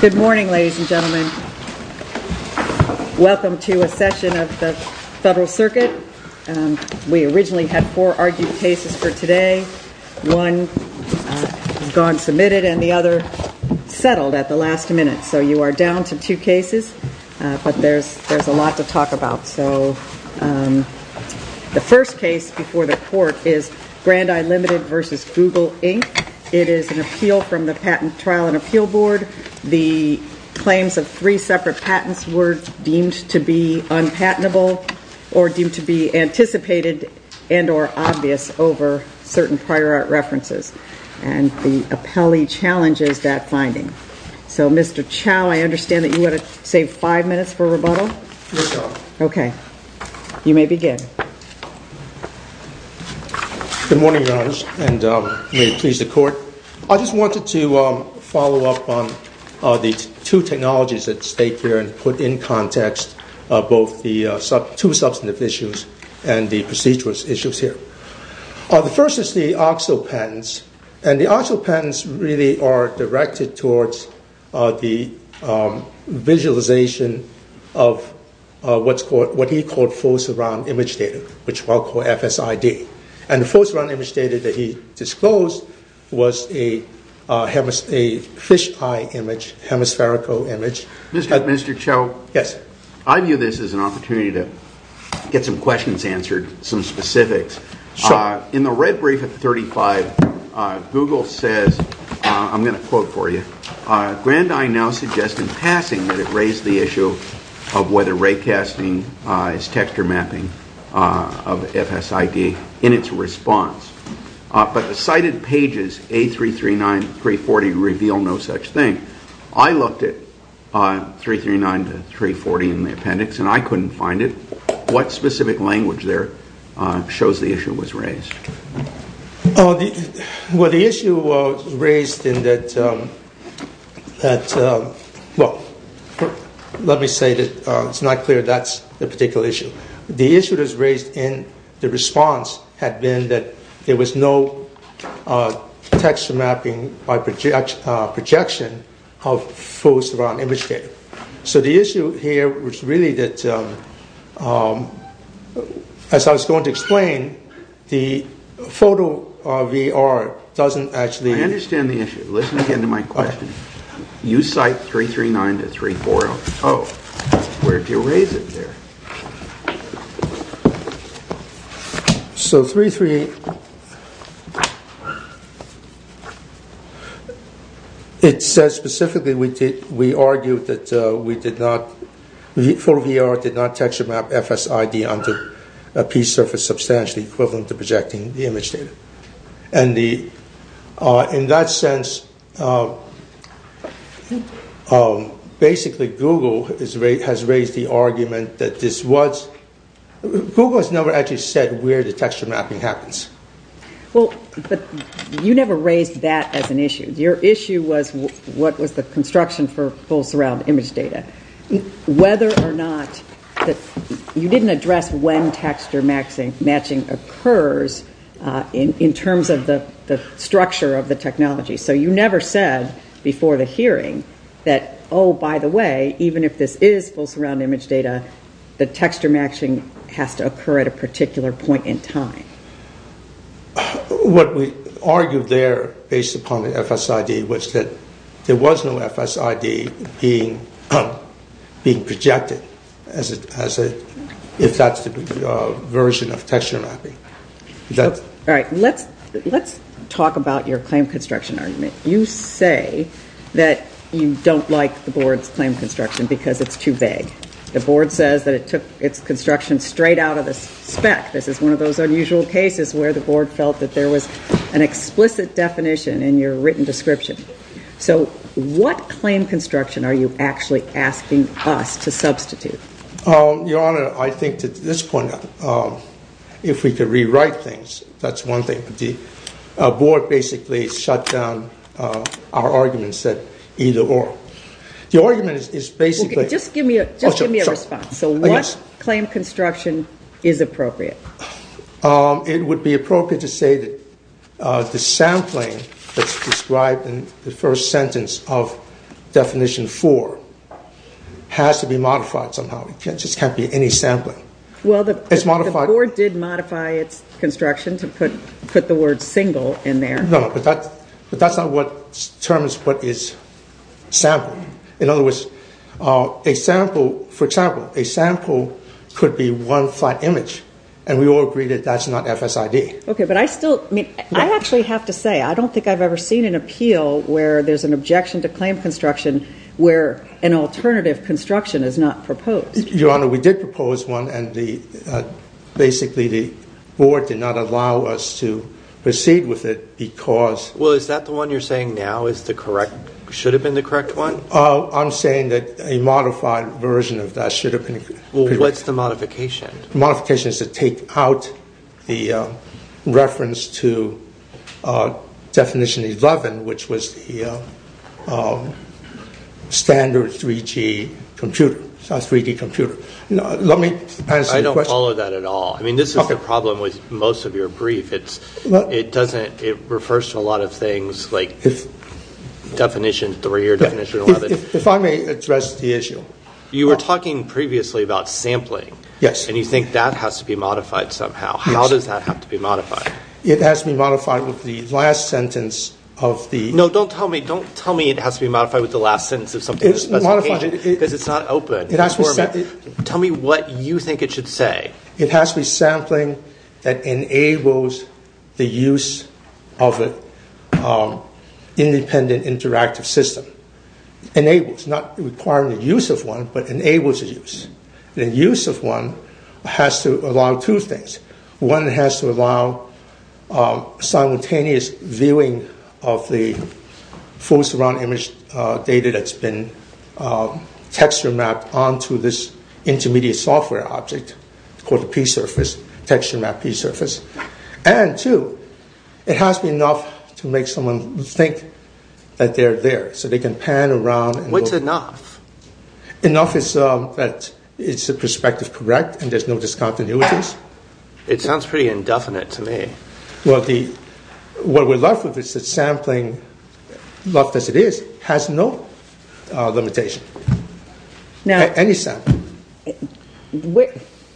Good morning, ladies and gentlemen. Welcome to a session of the Federal Circuit. We originally had four argued cases for today. One has gone submitted and the other settled at the last minute. So you are down to two cases, but there's a lot to talk about. The first case before the court is Grandeye Limited v. Google Inc. It is an appeal from the Patent Trial and Appeal Board. The claims of three separate patents were deemed to be unpatentable or deemed to be anticipated and or obvious over certain prior art references. And the appellee challenges that finding. So Mr. Chau, I understand that you want to save five minutes for rebuttal? You may begin. Good morning, Your Honor, and may it please the court. I just wanted to follow up on the two technologies at stake here and put in context both the two substantive issues and the procedural issues here. The first is the OXO patents. And the OXO patents really are directed towards the visualization of what he called full surround image data, which we'll call FSID. And the full surround image data that he disclosed was a fisheye image, hemispherical image. Mr. Chau, I view this as an opportunity to get some questions answered, some specifics. In the red brief at 35, Google says, I'm going to quote for you, Grandeye now suggests in passing that it raised the issue of whether ray casting is texture mapping of FSID in its response. But the cited pages A339 to 340 reveal no such thing. I looked at 339 to 340 in the appendix and I couldn't find it. What specific language there shows the issue was raised? Well, the issue was raised in that, well, let me say that it's not clear that's the particular issue. The issue that's raised in the response had been that there was no texture mapping by projection of full surround image data. So the issue here was really that as I was going to explain, the photo VR doesn't actually... I understand the issue. Let me get into my question. You cite 339 to 340. Where do you raise it there? So 338, it says specifically we argued that we did not, full VR did not texture map FSID onto a piece of a substantial equivalent to projecting the image data. In that sense, basically Google has raised the argument that this was... Google has never actually said where the texture mapping happens. You never raised that as an issue. Your issue was what was the construction for full surround image data. Whether or not you didn't address when texture matching occurs in terms of the structure of the technology. So you never said before the hearing that, oh, by the way, even if this is full surround image data, the texture matching has to occur at a particular point in time. What we argued there based upon the FSID was that there was no FSID being projected as a... if that's the version of texture mapping. Let's talk about your claim construction argument. You say that you don't like the board's claim construction because it's too vague. The board says that it took its construction straight out of the spec. This is one of those unusual cases where the board felt that there was an explicit definition in your written description. So what claim construction are you actually asking us to substitute? Your Honor, I think that at this point if we could rewrite things, that's one thing. The board basically shut down our arguments that either or. The argument is basically... Just give me a response. So what claim construction is appropriate? It would be appropriate to say that the sampling that's described in the first sentence of definition four has to be modified somehow. It just can't be any sampling. Well, the board did modify its construction to put the word single in there. No, but that's not what determines what is sampling. In other words, a sample for example, a sample could be one flat image and we all agree that that's not FSID. Okay, but I still... I actually have to say, I don't think I've ever seen an appeal where there's an objection to claim construction where an alternative construction is not proposed. Your Honor, we did propose one and basically the board did not allow us to proceed with it because... Well, is that the one you're saying now should have been the correct one? I'm saying that a modified version of that should have been... Well, what's the modification? The modification is to take out the reference to definition 11, which was the standard 3G computer, 3D computer. Let me... I don't follow that at all. I mean, this is the problem with most of your brief. It doesn't... It refers to a lot of things like definition three or definition 11. If I may address the issue. You were talking previously about sampling. Yes. And you think that has to be modified somehow. How does that have to be modified? It has to be modified with the last sentence of the... No, don't tell me it has to be modified with the last sentence of something... It's modified... Because it's not open. Tell me what you think it should say. It has to be sampling that enables the use of an independent interactive system. Enables, not requiring the use of one, but enables the use. The use of one has to allow two things. One has to allow simultaneous viewing of the full surround image data that's been texture mapped onto this intermediate software object called the p-surface, texture mapped p-surface. And two, it has to be enough to make someone think that they're there. So they can pan around... What's enough? Enough is that it's a perspective correct and there's no discontinuities. It sounds pretty indefinite to me. What we're left with is that sampling, left as it is, has no limitation.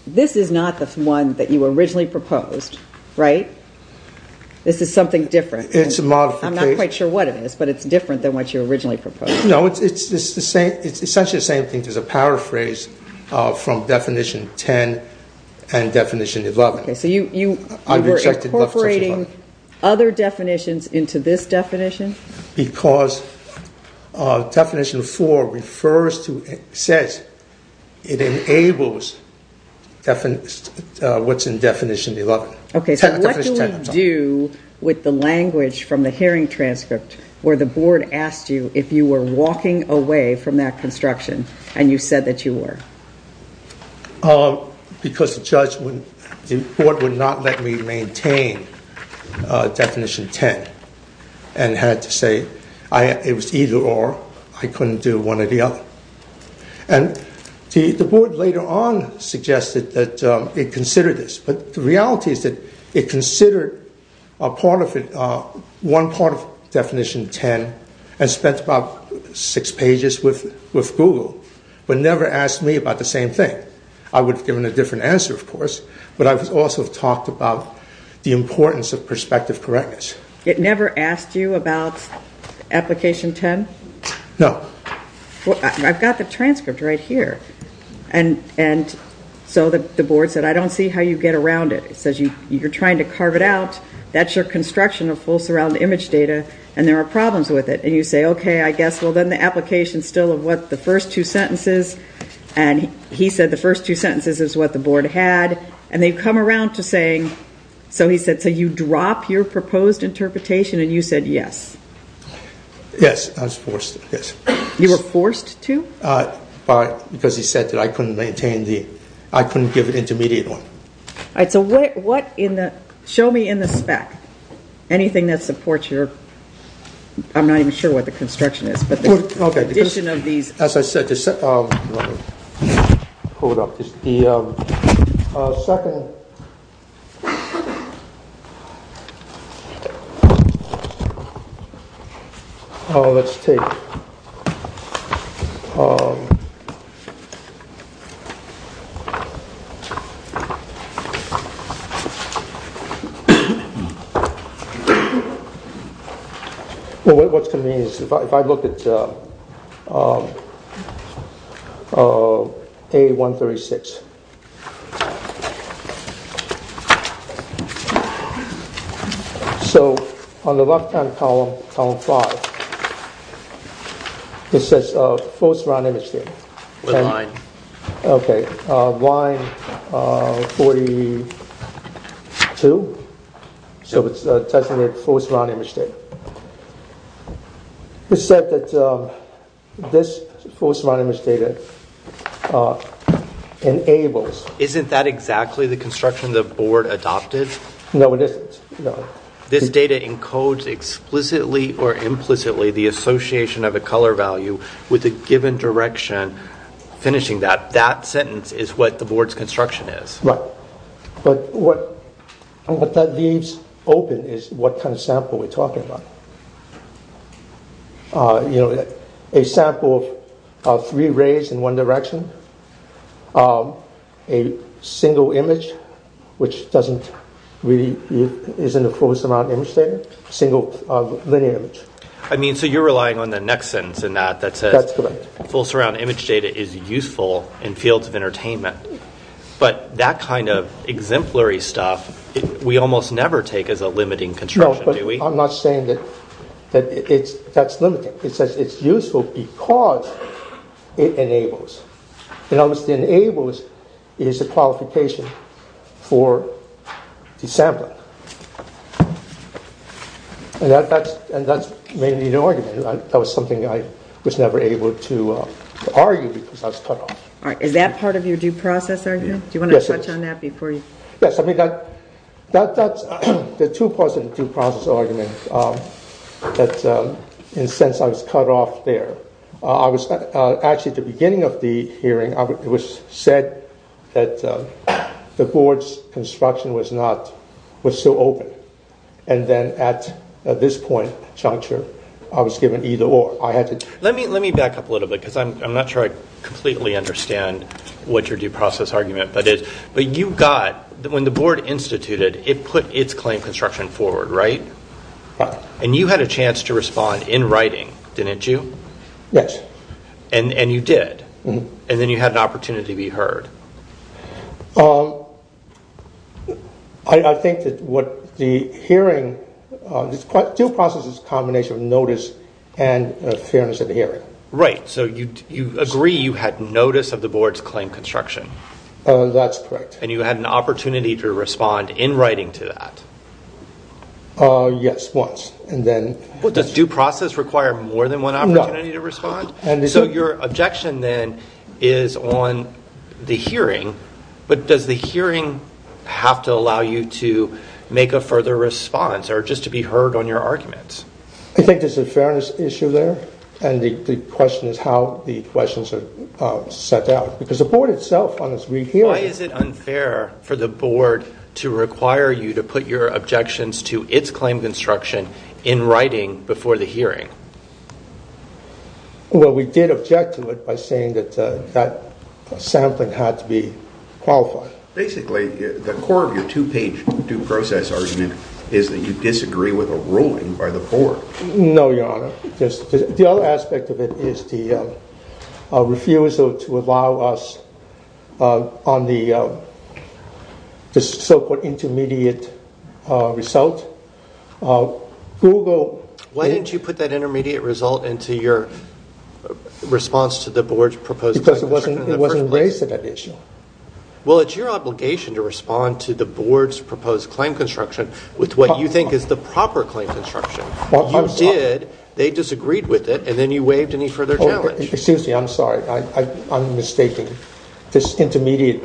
This is not the one that you originally proposed, right? This is something different. I'm not quite sure what it is, but it's different than what you originally proposed. No, it's essentially the same thing. There's a paraphrase from definition 10 and definition 11. You were incorporating other definitions into this definition? Because definition 4 says it enables what's in definition 11. What do we do with the language from the hearing transcript where the board asked you if you were walking away from that construction and you said that you were? Because the judge would not let me maintain definition 10 and had to say it was either or. I couldn't do one or the other. The board later on suggested that it consider this, but the reality is that it considered one part of definition 10 and spent about six pages with Google, but never asked me about the same thing. I would have given a different answer, of course, but I would also have talked about the importance of perspective correctness. It never asked you about application 10? No. I've got the transcript right here. The board said, I don't see how you get around it. It says you're trying to carve it out. That's your construction of full surround image data and there are problems with it. You say, okay, I guess, well then the application still of what the first two sentences and he said the first two sentences is what the board had and they've come around to saying, so he said, so you drop your proposed interpretation and you said yes. Yes, I was forced. You were forced to? Because he said that I couldn't maintain the, I couldn't give an intermediate one. Show me in the spec anything that supports your, I'm not even sure what the construction is, but the addition of these. Let's take What's convenient is if I look at A136 so on the left hand column, column 5, it says full surround image data. Line. Okay, line 42 so it's testing the full surround image data. It said that this full surround image data enables Isn't that exactly the construction the board adopted? No, it isn't. This data encodes explicitly or implicitly the association of a color value with a given direction finishing that. That sentence is what the board's construction is. Right, but what that leaves open is what kind of sample we're talking about. A sample of three rays in one direction a single image which doesn't really, isn't a full surround image data single linear image. I mean, so you're relying on the next sentence in that that says full surround image data is useful in fields of that kind of exemplary stuff we almost never take as a limiting construction, do we? No, but I'm not saying that that's limiting it says it's useful because it enables it almost enables is a qualification for the sampling and that's mainly an argument. That was something I was never able to argue because I was cut off. Is that part of your due process argument? Yes, the two parts of the due process argument in a sense I was cut off there actually at the beginning of the hearing it was said that the board's construction was not was still open and then at this point I was given either or. Let me back up a little bit because I'm not sure I completely understand what your due process argument but you got, when the board instituted it put its claim construction forward, right? And you had a chance to respond in writing, didn't you? Yes. And you did and then you had an opportunity to be heard. I think that what the hearing due process is a combination of notice and fairness of the hearing. Right, so you agree you had notice of the board's claim construction. That's correct. And you had an opportunity to respond in writing to that. Yes, once and then. Does due process require more than one opportunity to respond? So your objection then is on the hearing but does the hearing have to allow you to make a further response or just to be heard on your arguments? I think there's a fairness issue there and the question is how the questions are set out because the board itself Why is it unfair for the board to require you to put your objections to its claim construction in writing before the hearing? Well we did object to it by saying that sampling had to be qualified. Basically the core of your two page due process argument is that you disagree with a ruling by the board. No, your honor. The other aspect of it is the refusal to allow us on the so-called intermediate result. Why didn't you put that intermediate result into your response to the board's proposed claim construction? Because it wasn't raised to that issue. Well it's your obligation to respond to the board's proposed claim construction with what you think is the proper claim construction. You did, they disagreed with it and then you waived any further challenge. Excuse me, I'm sorry. I'm mistaking. This intermediate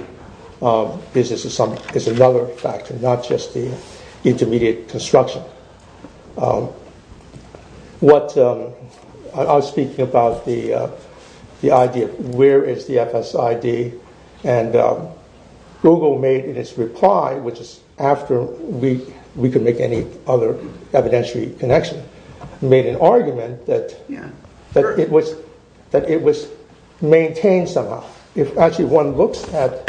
is another factor, not just the intermediate construction. I was speaking about the idea of where is the FSID and Google made in its reply, which is after we could make any other evidentiary connection, made an argument that it was maintained somehow. If actually one looks at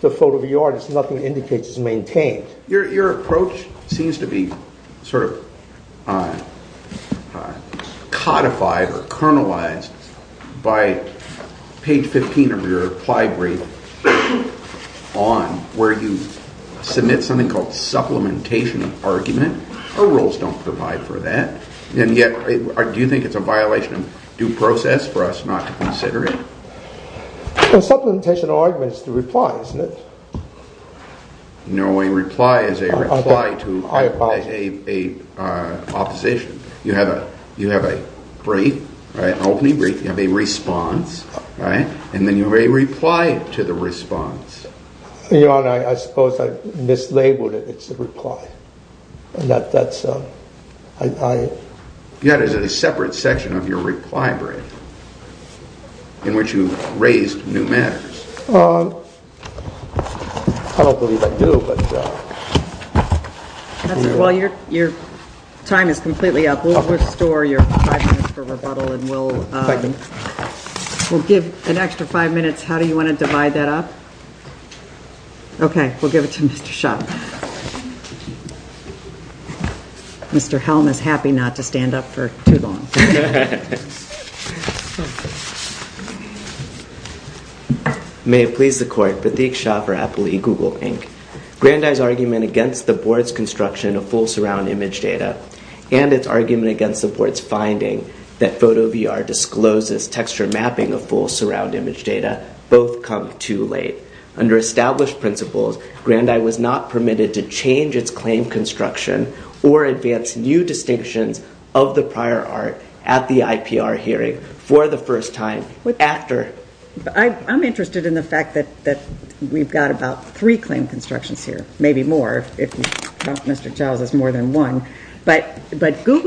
the photo of the artist, nothing indicates it's maintained. Your approach seems to be sort of codified or kernelized by page 15 of your reply brief on where you submit something called supplementation of argument. Our rules don't provide for that. Do you think it's a violation of due process for us not to consider it? Supplementation of argument is the reply, isn't it? No, a reply is a reply to an opposition. You have a brief, an opening brief, you have a response and then you have a reply to the response. Your Honor, I suppose I mislabeled it. It's a reply. You had a separate section of your reply brief in which you raised new matters. I don't believe I do. Your time is completely up. We'll restore your five minutes for rebuttal. We'll give an extra five minutes. How do you want to divide that up? Okay, we'll give it to Mr. Schopp. Mr. Helm is happy not to stand up for too long. May it please the Court, Pratik Schopp for Apple eGoogle Inc. Grandi's argument against the Board's construction of full surround image data and its argument against the Board's finding that PhotoVR discloses texture mapping of full surround image data both come too late. Under established principles, Grandi was not permitted to change its claim construction or advance new distinctions of the prior art at the IPR hearing for the first time after. I'm interested in the fact that we've got about three claim constructions here, maybe more if Google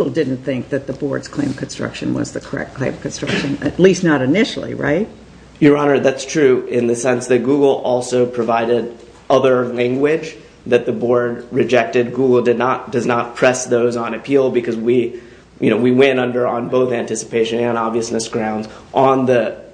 didn't think that the Board's claim construction was the correct claim construction at least not initially, right? Your Honor, that's true in the sense that Google also provided other language that the Board rejected. Google does not press those on appeal because we went under on both anticipation and obviousness grounds on the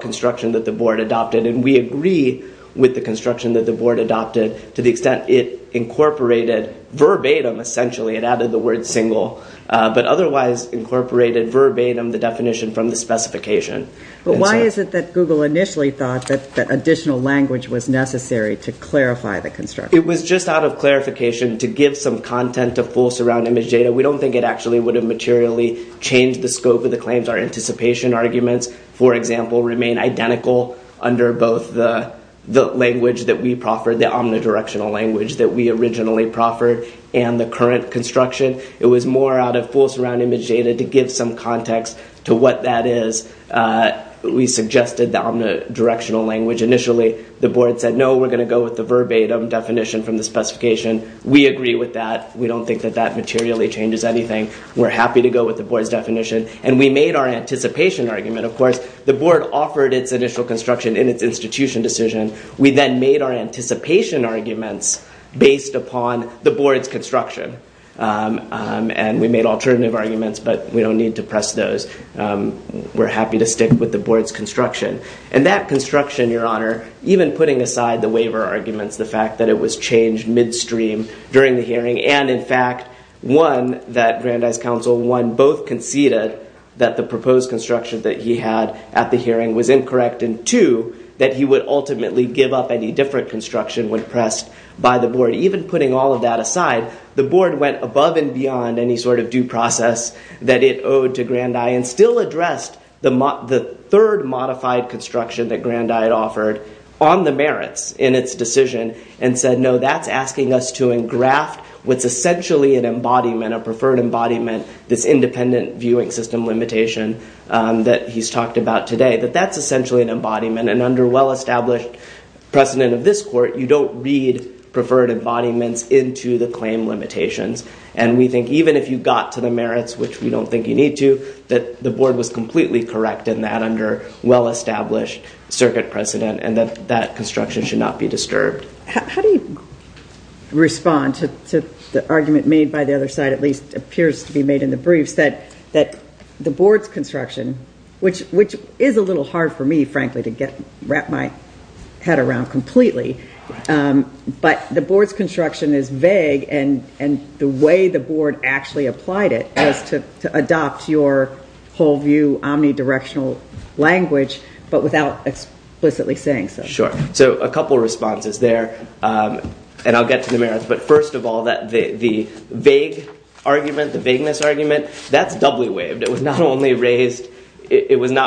construction that the Board adopted and we agree with the construction that the Board adopted to the extent it incorporated verbatim, essentially, it added the word single, but otherwise incorporated verbatim the definition from the specification. But why is it that Google initially thought that additional language was necessary to clarify the construction? It was just out of clarification to give some content to full surround image data. We don't think it actually would have materially changed the scope of the claims. Our anticipation arguments, for example, remain identical under both the language that we proffered, the omnidirectional language that we originally proffered, and the current construction. It was more out of full surround image data to give some context to what that is. We suggested the omnidirectional language initially. The Board said, no, we're going to go with the verbatim definition from the specification. We agree with that. We don't think that that materially changes anything. We're happy to go with the Board's definition and we made our anticipation argument, of course. The Board offered its initial construction in its institution decision. We then made our anticipation arguments based upon the Board's construction. And we made alternative arguments but we don't need to press those. We're happy to stick with the Board's construction. And that construction, Your Honor, even putting aside the waiver arguments, the fact that it was changed midstream during the hearing, and in fact, one, that Grandi's counsel, one, both conceded that the proposed construction that he had at the hearing was incorrect, and two, that he would ultimately give up any different construction when pressed by the Board. Even putting all of that aside, the Board went above and beyond any sort of due process that it owed to Grandi and still addressed the third modified construction that Grandi had offered on the merits in its decision and said, no, that's asking us to engraft what's essentially an embodiment, a preferred embodiment, this independent viewing system limitation that he's talked about today, that that's essentially an embodiment. And under well-established precedent of this Court, you don't read preferred embodiments into the claim limitations. And we think even if you got to the merits, which we don't think you need to, that the Board was completely correct in that under well-established circuit precedent and that that construction should not be disturbed. How do you respond to the argument made by the other side, at least appears to be made in the briefs, that the Board's construction, which is a little hard for me frankly to wrap my head around completely, but the Board's construction is vague and the way the Board actually applied it was to adopt your whole view, omnidirectional language, but without explicitly saying so. Sure. So a couple responses there and I'll get to the merits, but first of all, the vague argument, the vagueness argument, that's doubly waived. It was not only raised,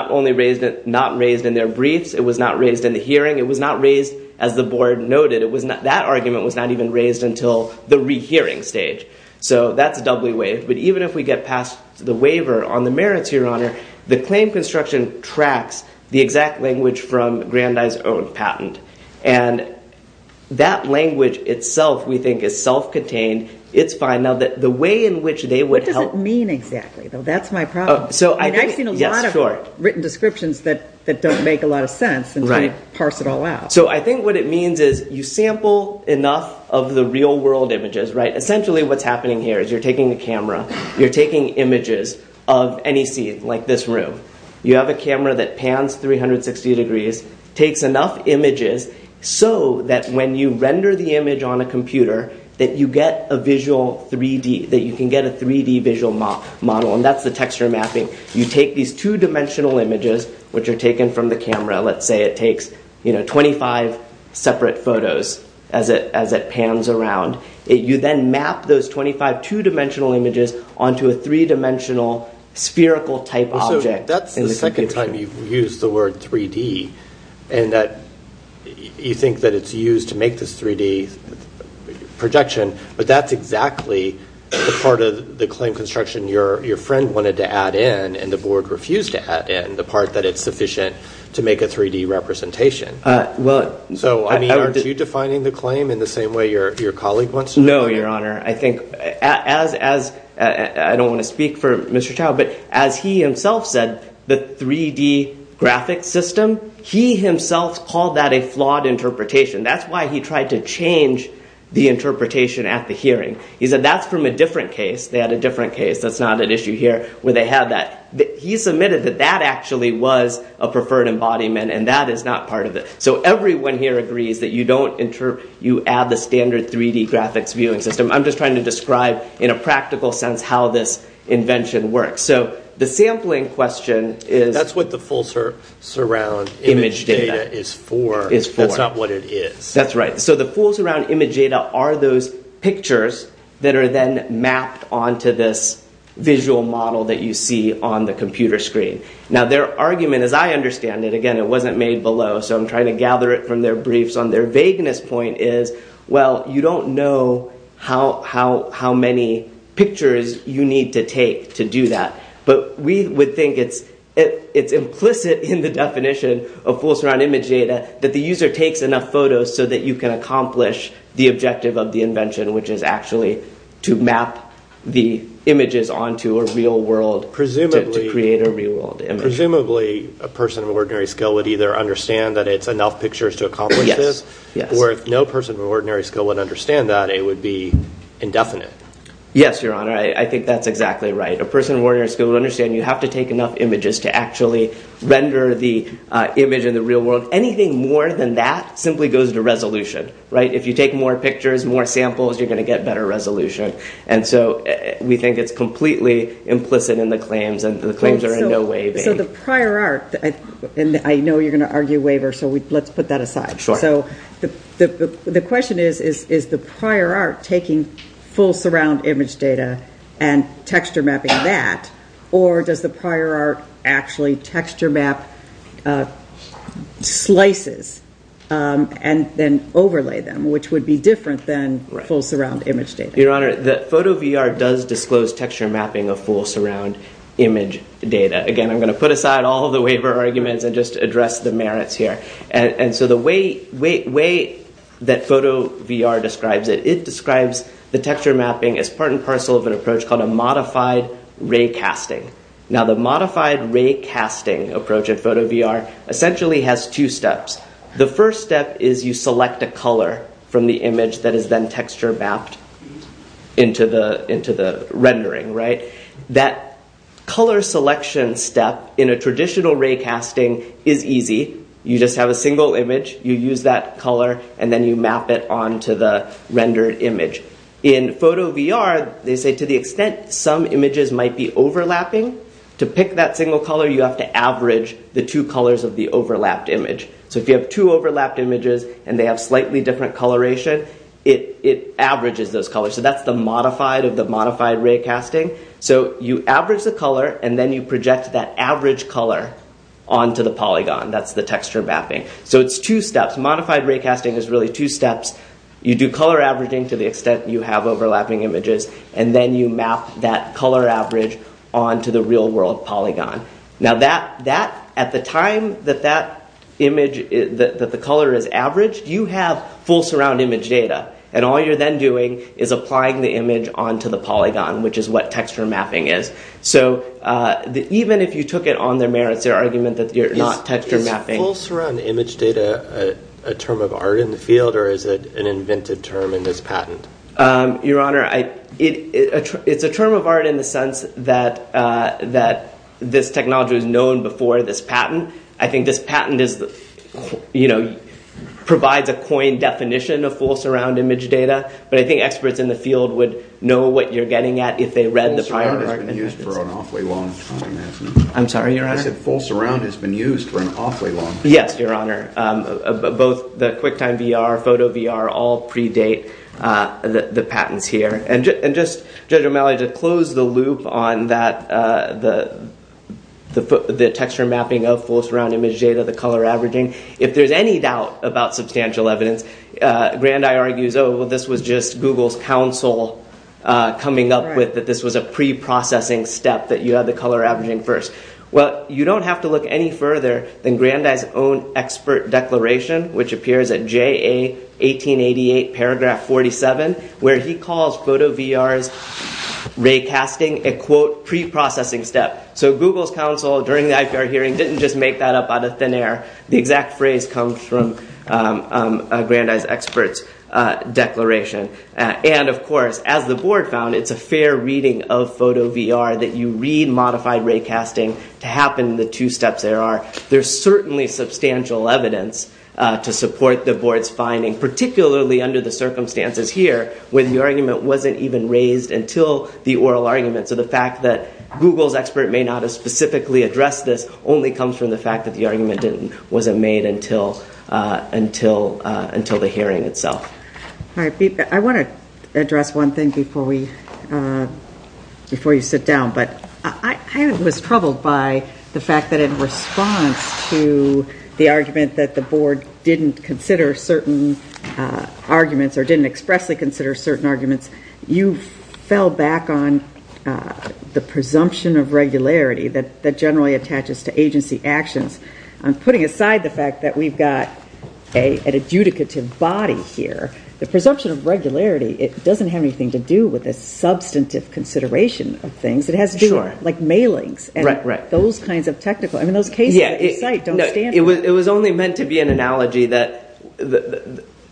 not raised in their briefs, it was not raised in the hearing, it was not raised, as the Board noted, that argument was not even raised until the rehearing stage. So that's doubly waived. But even if we get past the waiver on the merits, Your Honor, the claim construction tracks the exact language from Grandi's own patent. And that language itself, we think, is self-contained. It's fine. Now the way in which they would help... What does it mean exactly? That's my problem. I've seen a lot of written descriptions that don't make a lot of sense until you parse it all out. So I think what it means is you sample enough of the real world images, essentially what's happening here is you're taking a camera, you're taking images of any scene like this room. You have a camera that pans 360 degrees, takes enough images so that when you render the image on a computer that you get a visual 3D, that you can get a 3D visual model. And that's the texture mapping. You take these two-dimensional images, which are taken from the camera. Let's say it takes 25 separate photos as it pans around. You then map those 25 two-dimensional images onto a three-dimensional spherical type object. So that's the second time you've used the word 3D, and that you think that it's used to make this 3D projection, but that's exactly the part of the claim construction your friend wanted to add in, and the board refused to add in, the part that it's sufficient to make a 3D representation. So aren't you defining the claim in the same way your colleague wants to? No, Your Honor. I think as... I don't want to speak for Mr. Chow, but as he himself said, the 3D graphic system, he himself called that a flawed interpretation. That's why he tried to change the interpretation at the hearing. He said that's from a different case. They had a different case. That's not an issue here, where they had that. He submitted that that actually was a preferred embodiment, and that is not part of it. So everyone here agrees that you add the standard 3D graphics viewing system. I'm just trying to describe in a practical sense how this invention works. So the sampling question is... That's what the full surround image data is for. That's not what it is. That's right. So the full surround image data are those pictures that are then mapped onto this visual model that you see on the computer screen. Now their argument, as I understand it, again it wasn't made below, so I'm trying to gather it from their briefs on their vagueness point is, well, you don't know how many pictures you need to take to do that. But we would think it's implicit in the definition of full surround image data that the user takes enough photos so that you can accomplish the objective of the invention, which is actually to map the images onto a real world, to create a real world image. Presumably a person of ordinary skill would either understand that it's enough pictures to accomplish this, or if no person of ordinary skill would understand that, it would be indefinite. Yes, your honor. I think that's exactly right. A person of ordinary skill would understand you have to take enough images to actually render the image in the real world. Anything more than that simply goes to resolution. If you take more pictures, more samples, you're going to get better resolution. And so we think it's completely implicit in the claims and the claims are in no way vague. So the prior art, and I know you're going to argue waiver, so let's put that aside. Sure. The question is, is the prior art taking full surround image data and texture mapping that, or does the prior art actually texture map slices and then overlay them, which would be different than full surround image data? Your honor, the photo VR does disclose texture mapping of full surround image data. Again, I'm going to put aside all the waiver arguments and just address the merits here. And so the way that photo VR describes it, it describes the texture mapping as part and parcel of an approach called a modified ray casting. Now the modified ray casting approach at photo VR essentially has two steps. The first step is you select a color from the image that is then texture mapped into the rendering. That color selection step in a traditional ray casting is easy. You just have a single image, you use that color, and then you map it onto the rendered image. In photo VR, they say to the extent some images might be overlapping, to pick that single color you have to average the two colors of the overlapped image. So if you have two overlapped images and they have slightly different coloration, it averages those colors. So that's the modified of the modified ray casting. So you average the color, and then you project that average color onto the polygon. That's the texture mapping. So it's two steps. Modified ray casting is really two steps. You do color averaging to the extent you have overlapping images, and then you map that color average onto the real world polygon. Now that, at the time that that image, that the color is averaged, you have full surround image data. And all you're then doing is applying the image onto the polygon, which is what texture mapping is. So even if you took it on their merits, their argument that you're not texture mapping. Is full surround image data a term of art in the field, or is it an invented term in this patent? Your Honor, it's a term of art in the sense that this technology was known before this patent. I think this patent provides a coined definition of full surround image data, but I think experts in the field would know what you're getting at if they read the prior art. Full surround has been used for an awfully long time. I'm sorry, Your Honor? I said full surround has been used for an awfully long time. Yes, Your Honor. Both the QuickTime VR, Photo VR, all predate the patents here. And just, Judge O'Malley, to close the loop on that, the texture mapping of full surround image data, the color averaging, if there's any doubt about substantial evidence, Grandi argues, oh, well this was just Google's council coming up with that this was a pre-processing step that you had the color averaging first. Well, you don't have to look any further than Grandi's own expert declaration, which appears at J.A. 1888, paragraph 47, where he calls Photo VR's ray casting a, quote, pre-processing step. So, Google's council, during the IPR hearing, didn't just make that up out of thin air. The exact phrase comes from Grandi's expert's declaration. And, of course, as the board found, it's a fair reading of Photo VR that you read modified ray casting to happen the two steps there are. There's certainly substantial evidence to support the board's finding, particularly under the circumstances here when the argument wasn't even raised until the oral argument. So the fact that Google's expert may not have specifically addressed this only comes from the fact that the argument wasn't made until the hearing itself. I want to address one thing before you sit down, but I was troubled by the fact that in response to the argument that the board didn't consider certain arguments or didn't expressly consider certain arguments, you fell back on the presumption of regularity that generally attaches to agency actions. Putting aside the fact that presumption of regularity, it doesn't have anything to do with a substantive consideration of things. It has to do with mailings and those kinds of technical cases that you cite don't stand for. It was only meant to be an analogy that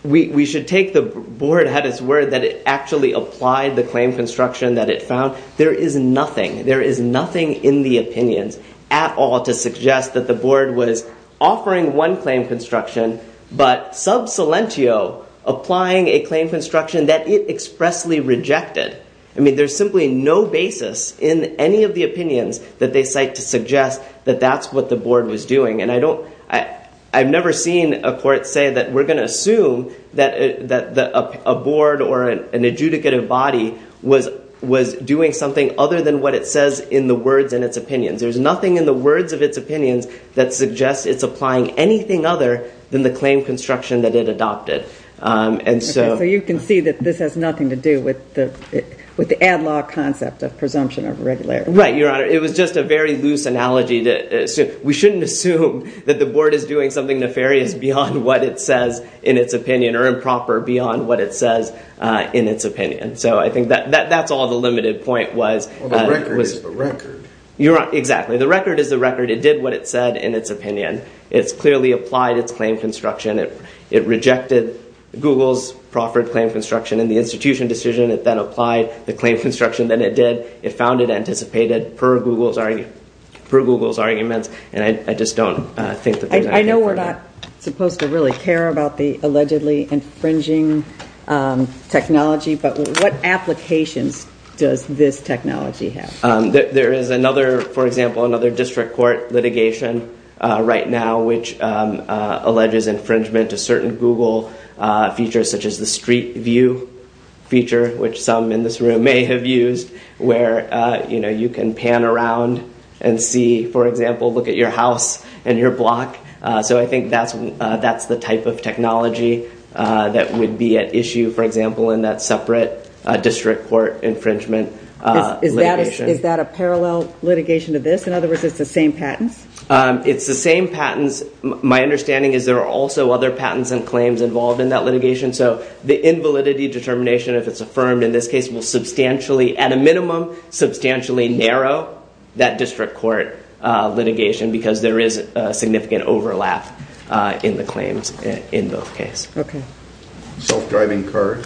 we should take the board had its word that it actually applied the claim construction that it found. There is nothing in the opinions at all to suggest that the board was offering one claim construction, but sub silentio applying a claim construction that it expressly rejected. There's simply no basis in any of the opinions that they cite to suggest that that's what the board was doing. I've never seen a court say that we're going to assume that a board or an adjudicative body was doing something other than what it says in the words in its opinions. There's nothing in the words of its opinions that suggests it's applying anything other than the claim construction that it adopted. So you can see that this has nothing to do with the ad law concept of presumption of regularity. Right, Your Honor. It was just a very loose analogy. We shouldn't assume that the board is doing something nefarious beyond what it says in its opinion or improper beyond what it says in its opinion. That's all the limited point was. The record is the record. Exactly. The record is the record. It did what it said in its opinion. It's clearly applied its claim construction. It rejected Google's proffered claim construction in the institution decision. It then applied the claim construction that it did. It found it anticipated per Google's arguments. And I just don't think that there's anything further. I know we're not supposed to really care about the allegedly infringing technology, but what applications does this technology have? There is another, for example, another district court litigation right now which alleges infringement to certain Google features such as the street view feature, which some in this room may have used, where you can pan around and see, for example, look at your house and your block. So I think that's the type of technology that would be at issue, for example, in that separate district court infringement litigation. Is that a parallel litigation to this? In other words, it's the same patents? It's the same patents. My understanding is there are also other patents and claims involved in that litigation. So the invalidity determination, if it's affirmed in this case, will substantially at a minimum, substantially narrow that district court litigation because there is a significant overlap in the claims in both cases. Self-driving car?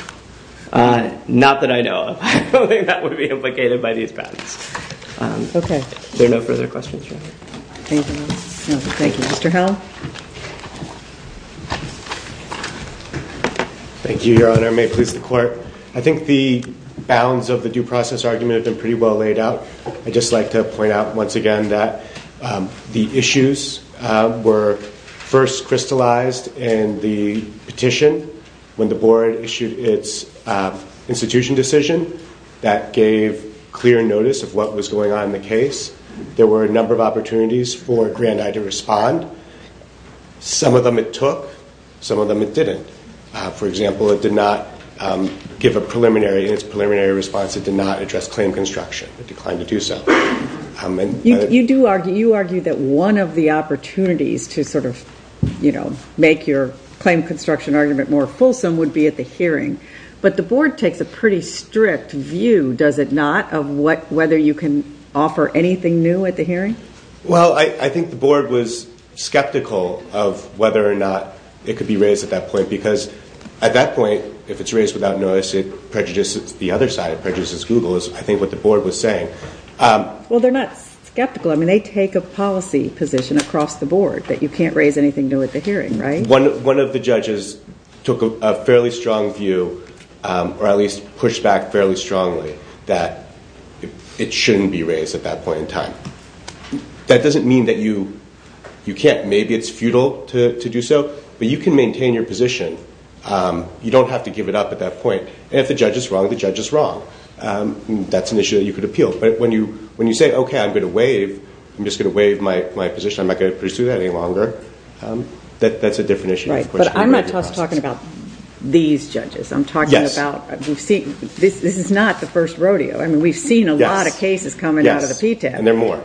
Not that I know of. I don't think that would be implicated by these patents. There are no further questions. Thank you. Mr. Hell? Thank you, Your Honor. May it please the Court. I think the bounds of the due process argument have been pretty well laid out. I'd just like to point out once again that the issues were first crystallized in the petition when the board issued its institution decision that gave clear notice of what was going on in the case. There were a number of opportunities for Grand I to respond. Some of them it took. Some of them it didn't. For example, it did not give a preliminary response. It did not address claim construction. It declined to do so. You argue that one of the opportunities to make your claim construction argument more fulsome would be at the hearing. But the board takes a pretty strict view, does it not, of whether you can offer anything new at the hearing? Well, I think the board was skeptical of whether or not it could be raised at that point because at that point, if it's raised without notice, it prejudices the other side. It prejudices Google, is I think what the board was saying. Well, they're not skeptical. I mean, they take a policy position across the board that you can't raise anything new at the hearing, right? One of the judges took a fairly strong view or at least pushed back fairly strongly that it shouldn't be raised at that point in time. That doesn't mean that you can't. Maybe it's futile to do so, but you can maintain your position. You don't have to give it up at that point. And if the judge is wrong, the judge is wrong. That's an issue that you could appeal. But when you say, okay, I'm going to waive. I'm just going to waive my position. I'm not going to pursue that any longer. That's a different issue. But I'm not just talking about these judges. I'm talking about... This is not the first rodeo. I mean, we've seen a lot of cases coming out of the PTAB. And there are more.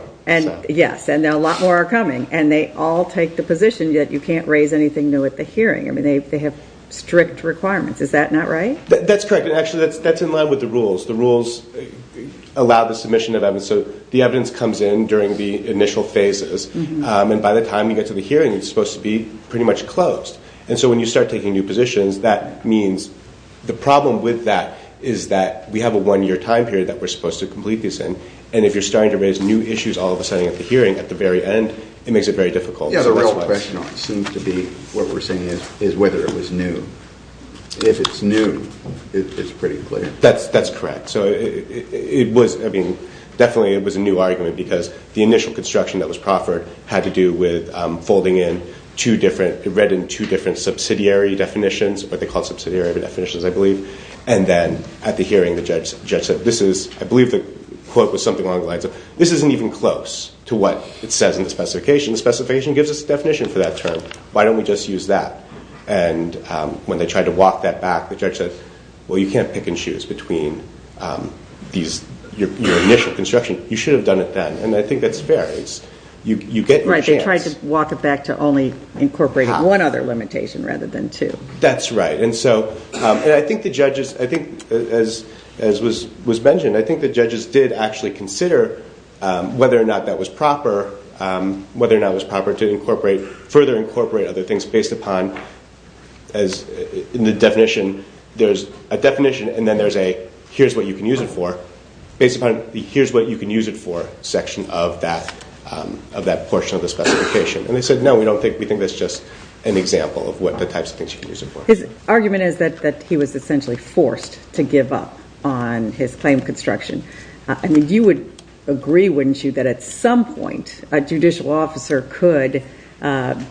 Yes, and a lot more are coming. And they all take the position that you can't raise anything new at the hearing. I mean, they have strict requirements. Is that not right? That's correct. Actually, that's in line with the rules. The rules allow the submission of evidence. So the evidence comes in during the initial phases. And by the time you get to the hearing, it's supposed to be pretty much closed. And so when you start taking new positions, that means the problem with that is that we have a one-year time period that we're supposed to complete this in. And if you're starting to raise new issues all of a sudden at the hearing at the very end, it makes it very difficult. Yeah, the real question seems to be what we're saying is whether it was new. If it's new, it's pretty clear. That's correct. So it was, I mean, definitely it was a new argument because the initial construction that was proffered had to do with folding in two different, it read in two different subsidiary definitions, what they call subsidiary definitions, I believe. And then at the hearing, the judge said, this is, I believe the quote was something along the lines of, this isn't even close to what it says in the specification. The specification gives us a definition for that term. Why don't we just use that? And when they tried to walk that back, the judge said, well, you can't pick and choose between these, your initial construction. You should have done it then. And I think that's fair. You get your chance. Right, they tried to walk it back to only incorporate one other limitation rather than two. That's right. And so I think the judges, I think as was mentioned, I think the judges did actually consider whether or not that was proper, whether or not it was proper to incorporate, further incorporate other things based upon as in the definition, there's a you can use it for, based upon the here's what you can use it for section of that portion of the specification. And they said no, we don't think, we think that's just an example of what the types of things you can use it for. His argument is that he was essentially forced to give up on his claim construction. I mean, you would agree, wouldn't you, that at some point a judicial officer could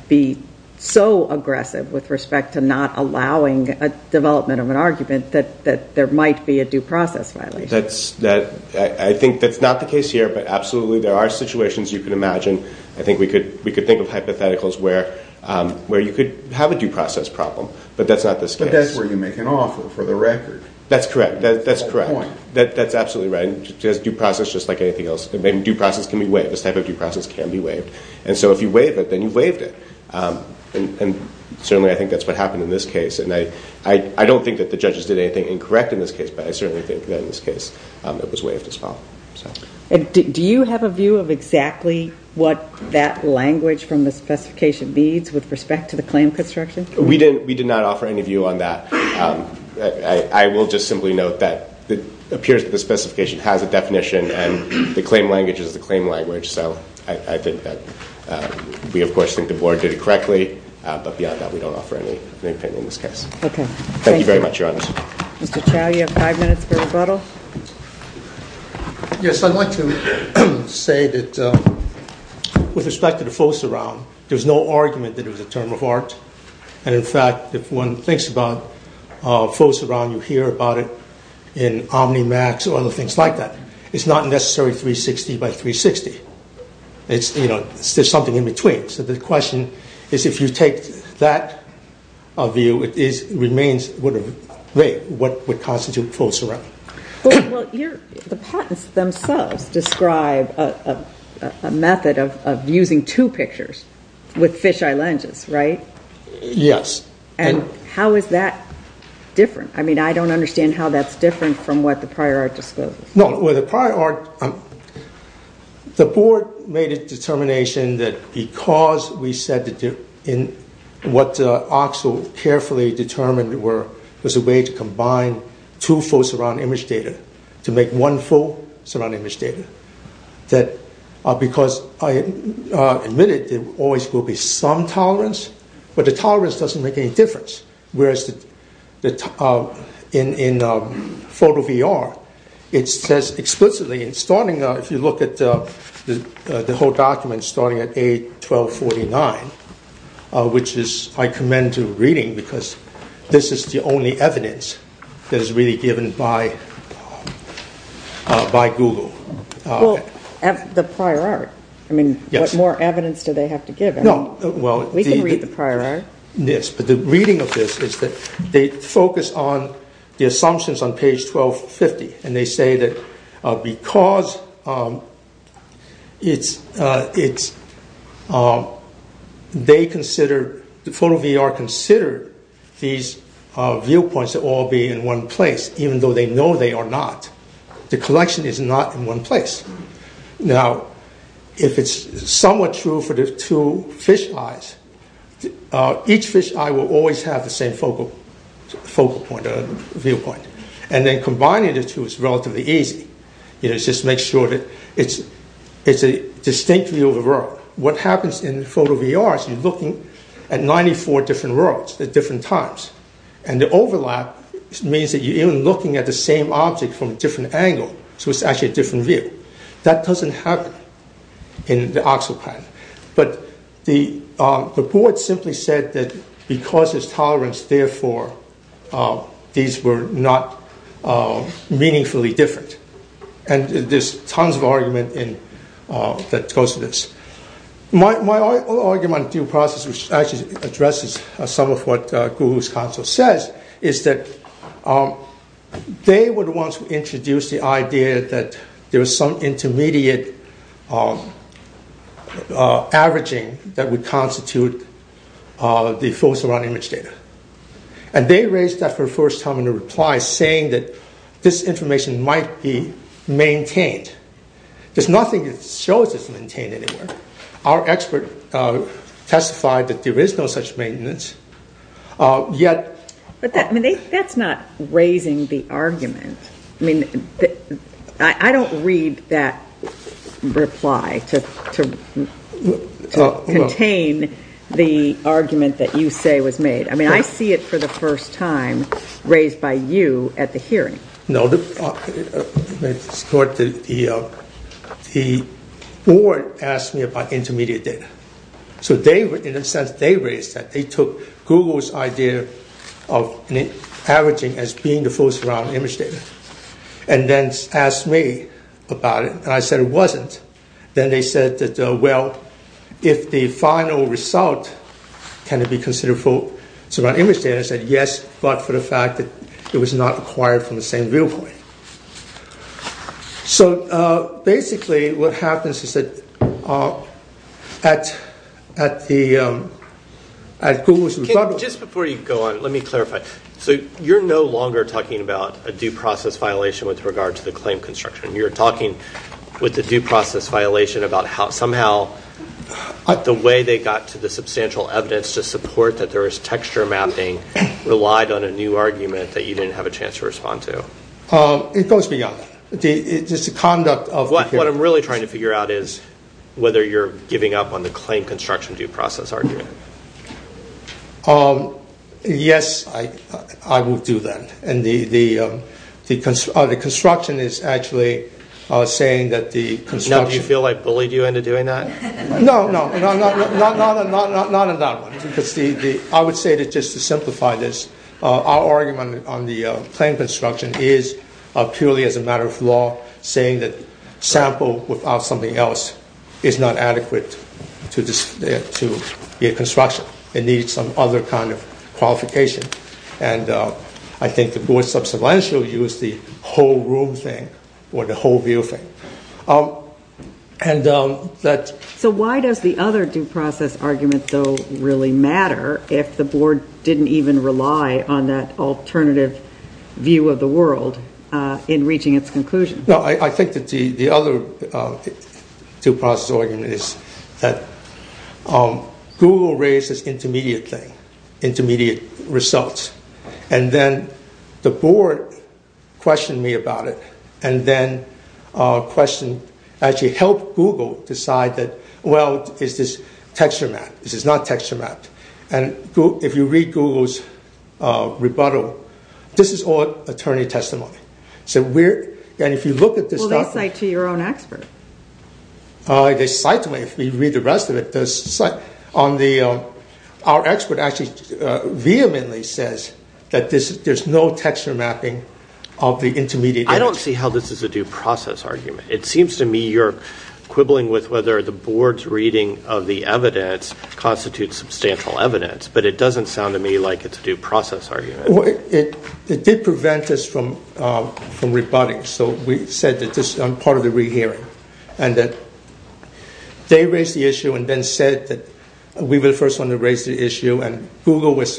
be so aggressive with respect to not allowing a development of an argument that there might be a due process violation. I think that's not the case here, but absolutely there are situations you can imagine. I think we could think of hypotheticals where you could have a due process problem, but that's not the case. But that's where you make an offer for the record. That's correct. That's correct. That's absolutely right. Due process just like anything else. Due process can be waived. This type of due process can be waived. And so if you waive it, then you've waived it. And certainly I think that's what happened in this case. And I don't think that the judges did anything incorrect in this case, but I certainly think that in this case it was waived as well. Do you have a view of exactly what that language from the specification needs with respect to the claim construction? We did not offer any view on that. I will just simply note that it appears that the specification has a definition and the claim language is the claim language, so I think that we of course think the Board did it correctly, but beyond that we don't offer any opinion in this case. Thank you very much, Your Honor. Mr. Chau, you have five minutes for rebuttal. Yes, I'd like to say that with respect to the full surround, there's no argument that it was a term of art. And in fact, if one thinks about full surround, you hear about it in OmniMax or other things like that. It's not necessarily 360 by 360. There's something in between. So the question is if you take that view it remains what would constitute full surround. The patents themselves describe a method of using two pictures with fisheye lenses, right? Yes. And how is that different? I mean, I don't understand how that's different from what the prior art disclosed. No, with the prior art, the Board made a determination that because we said that what OXL carefully determined was a way to combine two full surround image data to make one full surround image data, that because I admitted there always will be some tolerance, but the tolerance doesn't make any difference. Whereas in photo VR, it says explicitly in starting if you look at the whole document starting at A1249, which I commend to reading because this is the only evidence that is really given by Google. The prior art. I mean, what more evidence do they have to give? We can read the prior art. Yes, but the reading of this is that they focus on the assumptions on page 1250 and they say that because they consider the photo VR consider these viewpoints to all be in one place, even though they know they are not. The collection is not in one place. Now, if it's somewhat true for the two fisheyes, each fisheye will always have the same focal point or viewpoint. And then combining the two is relatively easy. It just makes sure that it's a distinct view of the world. What happens in photo VR is you're looking at 94 different worlds at different times. And the overlap means that you're even looking at the same object from a different angle, so it's actually a different view. That doesn't happen in the actual pattern. But the board simply said that because there's tolerance, therefore these were not meaningfully different. And there's tons of argument that goes with this. My argument on due process, which actually addresses some of what Guhu's counsel says, is that they were the ones who introduced the idea that there was some intermediate averaging that would constitute the And they raised that for the first time in a reply, saying that this information might be maintained. There's nothing that shows it's maintained anywhere. Our expert testified that there is no such maintenance, yet... But that's not raising the argument. I don't read that reply to contain the argument that you say was made. I mean, I see it for the first time raised by you at the hearing. The board asked me about intermediate data. So in a sense, they raised that. They took Guhu's idea of averaging as being the full surround image data and then asked me about it. And I said it wasn't. Then they said that, well, if the final result can it be considered full surround image data? I said yes, but for the fact that it was not acquired from the same viewpoint. So basically, what happens is that at the Just before you go on, let me clarify. So you're no longer talking about a due process violation with regard to the claim construction. You're talking with the due process violation about how somehow the way they got to the substantial evidence to support that there was texture mapping relied on a new argument that you didn't have a chance to respond to. It goes beyond that. What I'm really trying to figure out is whether you're giving up on the claim construction due process argument. Yes, I will do that. The construction is actually saying that the construction Do you feel I bullied you into doing that? No, not in that one. I would say just to simplify this, our argument on the claim construction is purely as a matter of law saying that sample without something else is not adequate to get construction. It needs some other kind of qualification. I think the board substantially used the whole room thing or the whole view thing. So why does the other due process argument really matter if the board didn't even rely on that alternative view of the world in reaching its conclusion? I think the other due process argument is that Google raised this intermediate thing, intermediate results and then the board questioned me about it and then questioned, actually helped Google decide that, well, is this texture mapped? Is this not texture mapped? If you read Google's rebuttal this is all attorney testimony. Well, they cite to your own expert. If you read the rest of it, our expert actually vehemently says that there's no texture mapping of the intermediate. I don't see how this is a due process argument. It seems to me you're quibbling with whether the board's reading of the evidence constitutes substantial evidence, but it doesn't sound to me like it's a due process argument. It did prevent us from rebutting, so we said that this is part of the rehearing and that they raised the issue and then said that we were the first one to raise the issue and Google was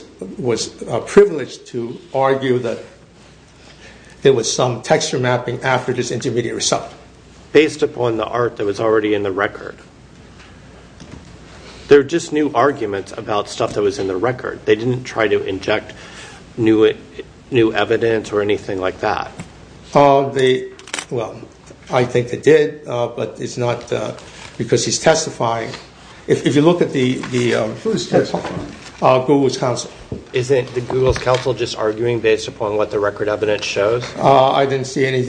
privileged to argue that there was some texture mapping after this intermediate result. Based upon the art that was already in the record there are just new arguments about stuff that was in the record. They didn't try to inject new evidence or anything like that. I think they did, but it's not because he's testifying. If you look at the... Who is testifying? Google's counsel. I didn't see anything in the record evidence. I think if you read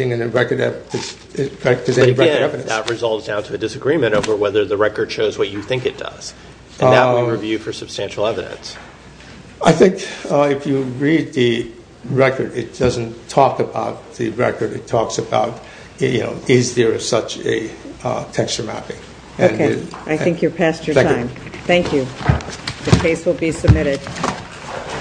the record it doesn't talk about the record. It talks about is there such a texture mapping. I think you've passed your time. Thank you. The case will be submitted.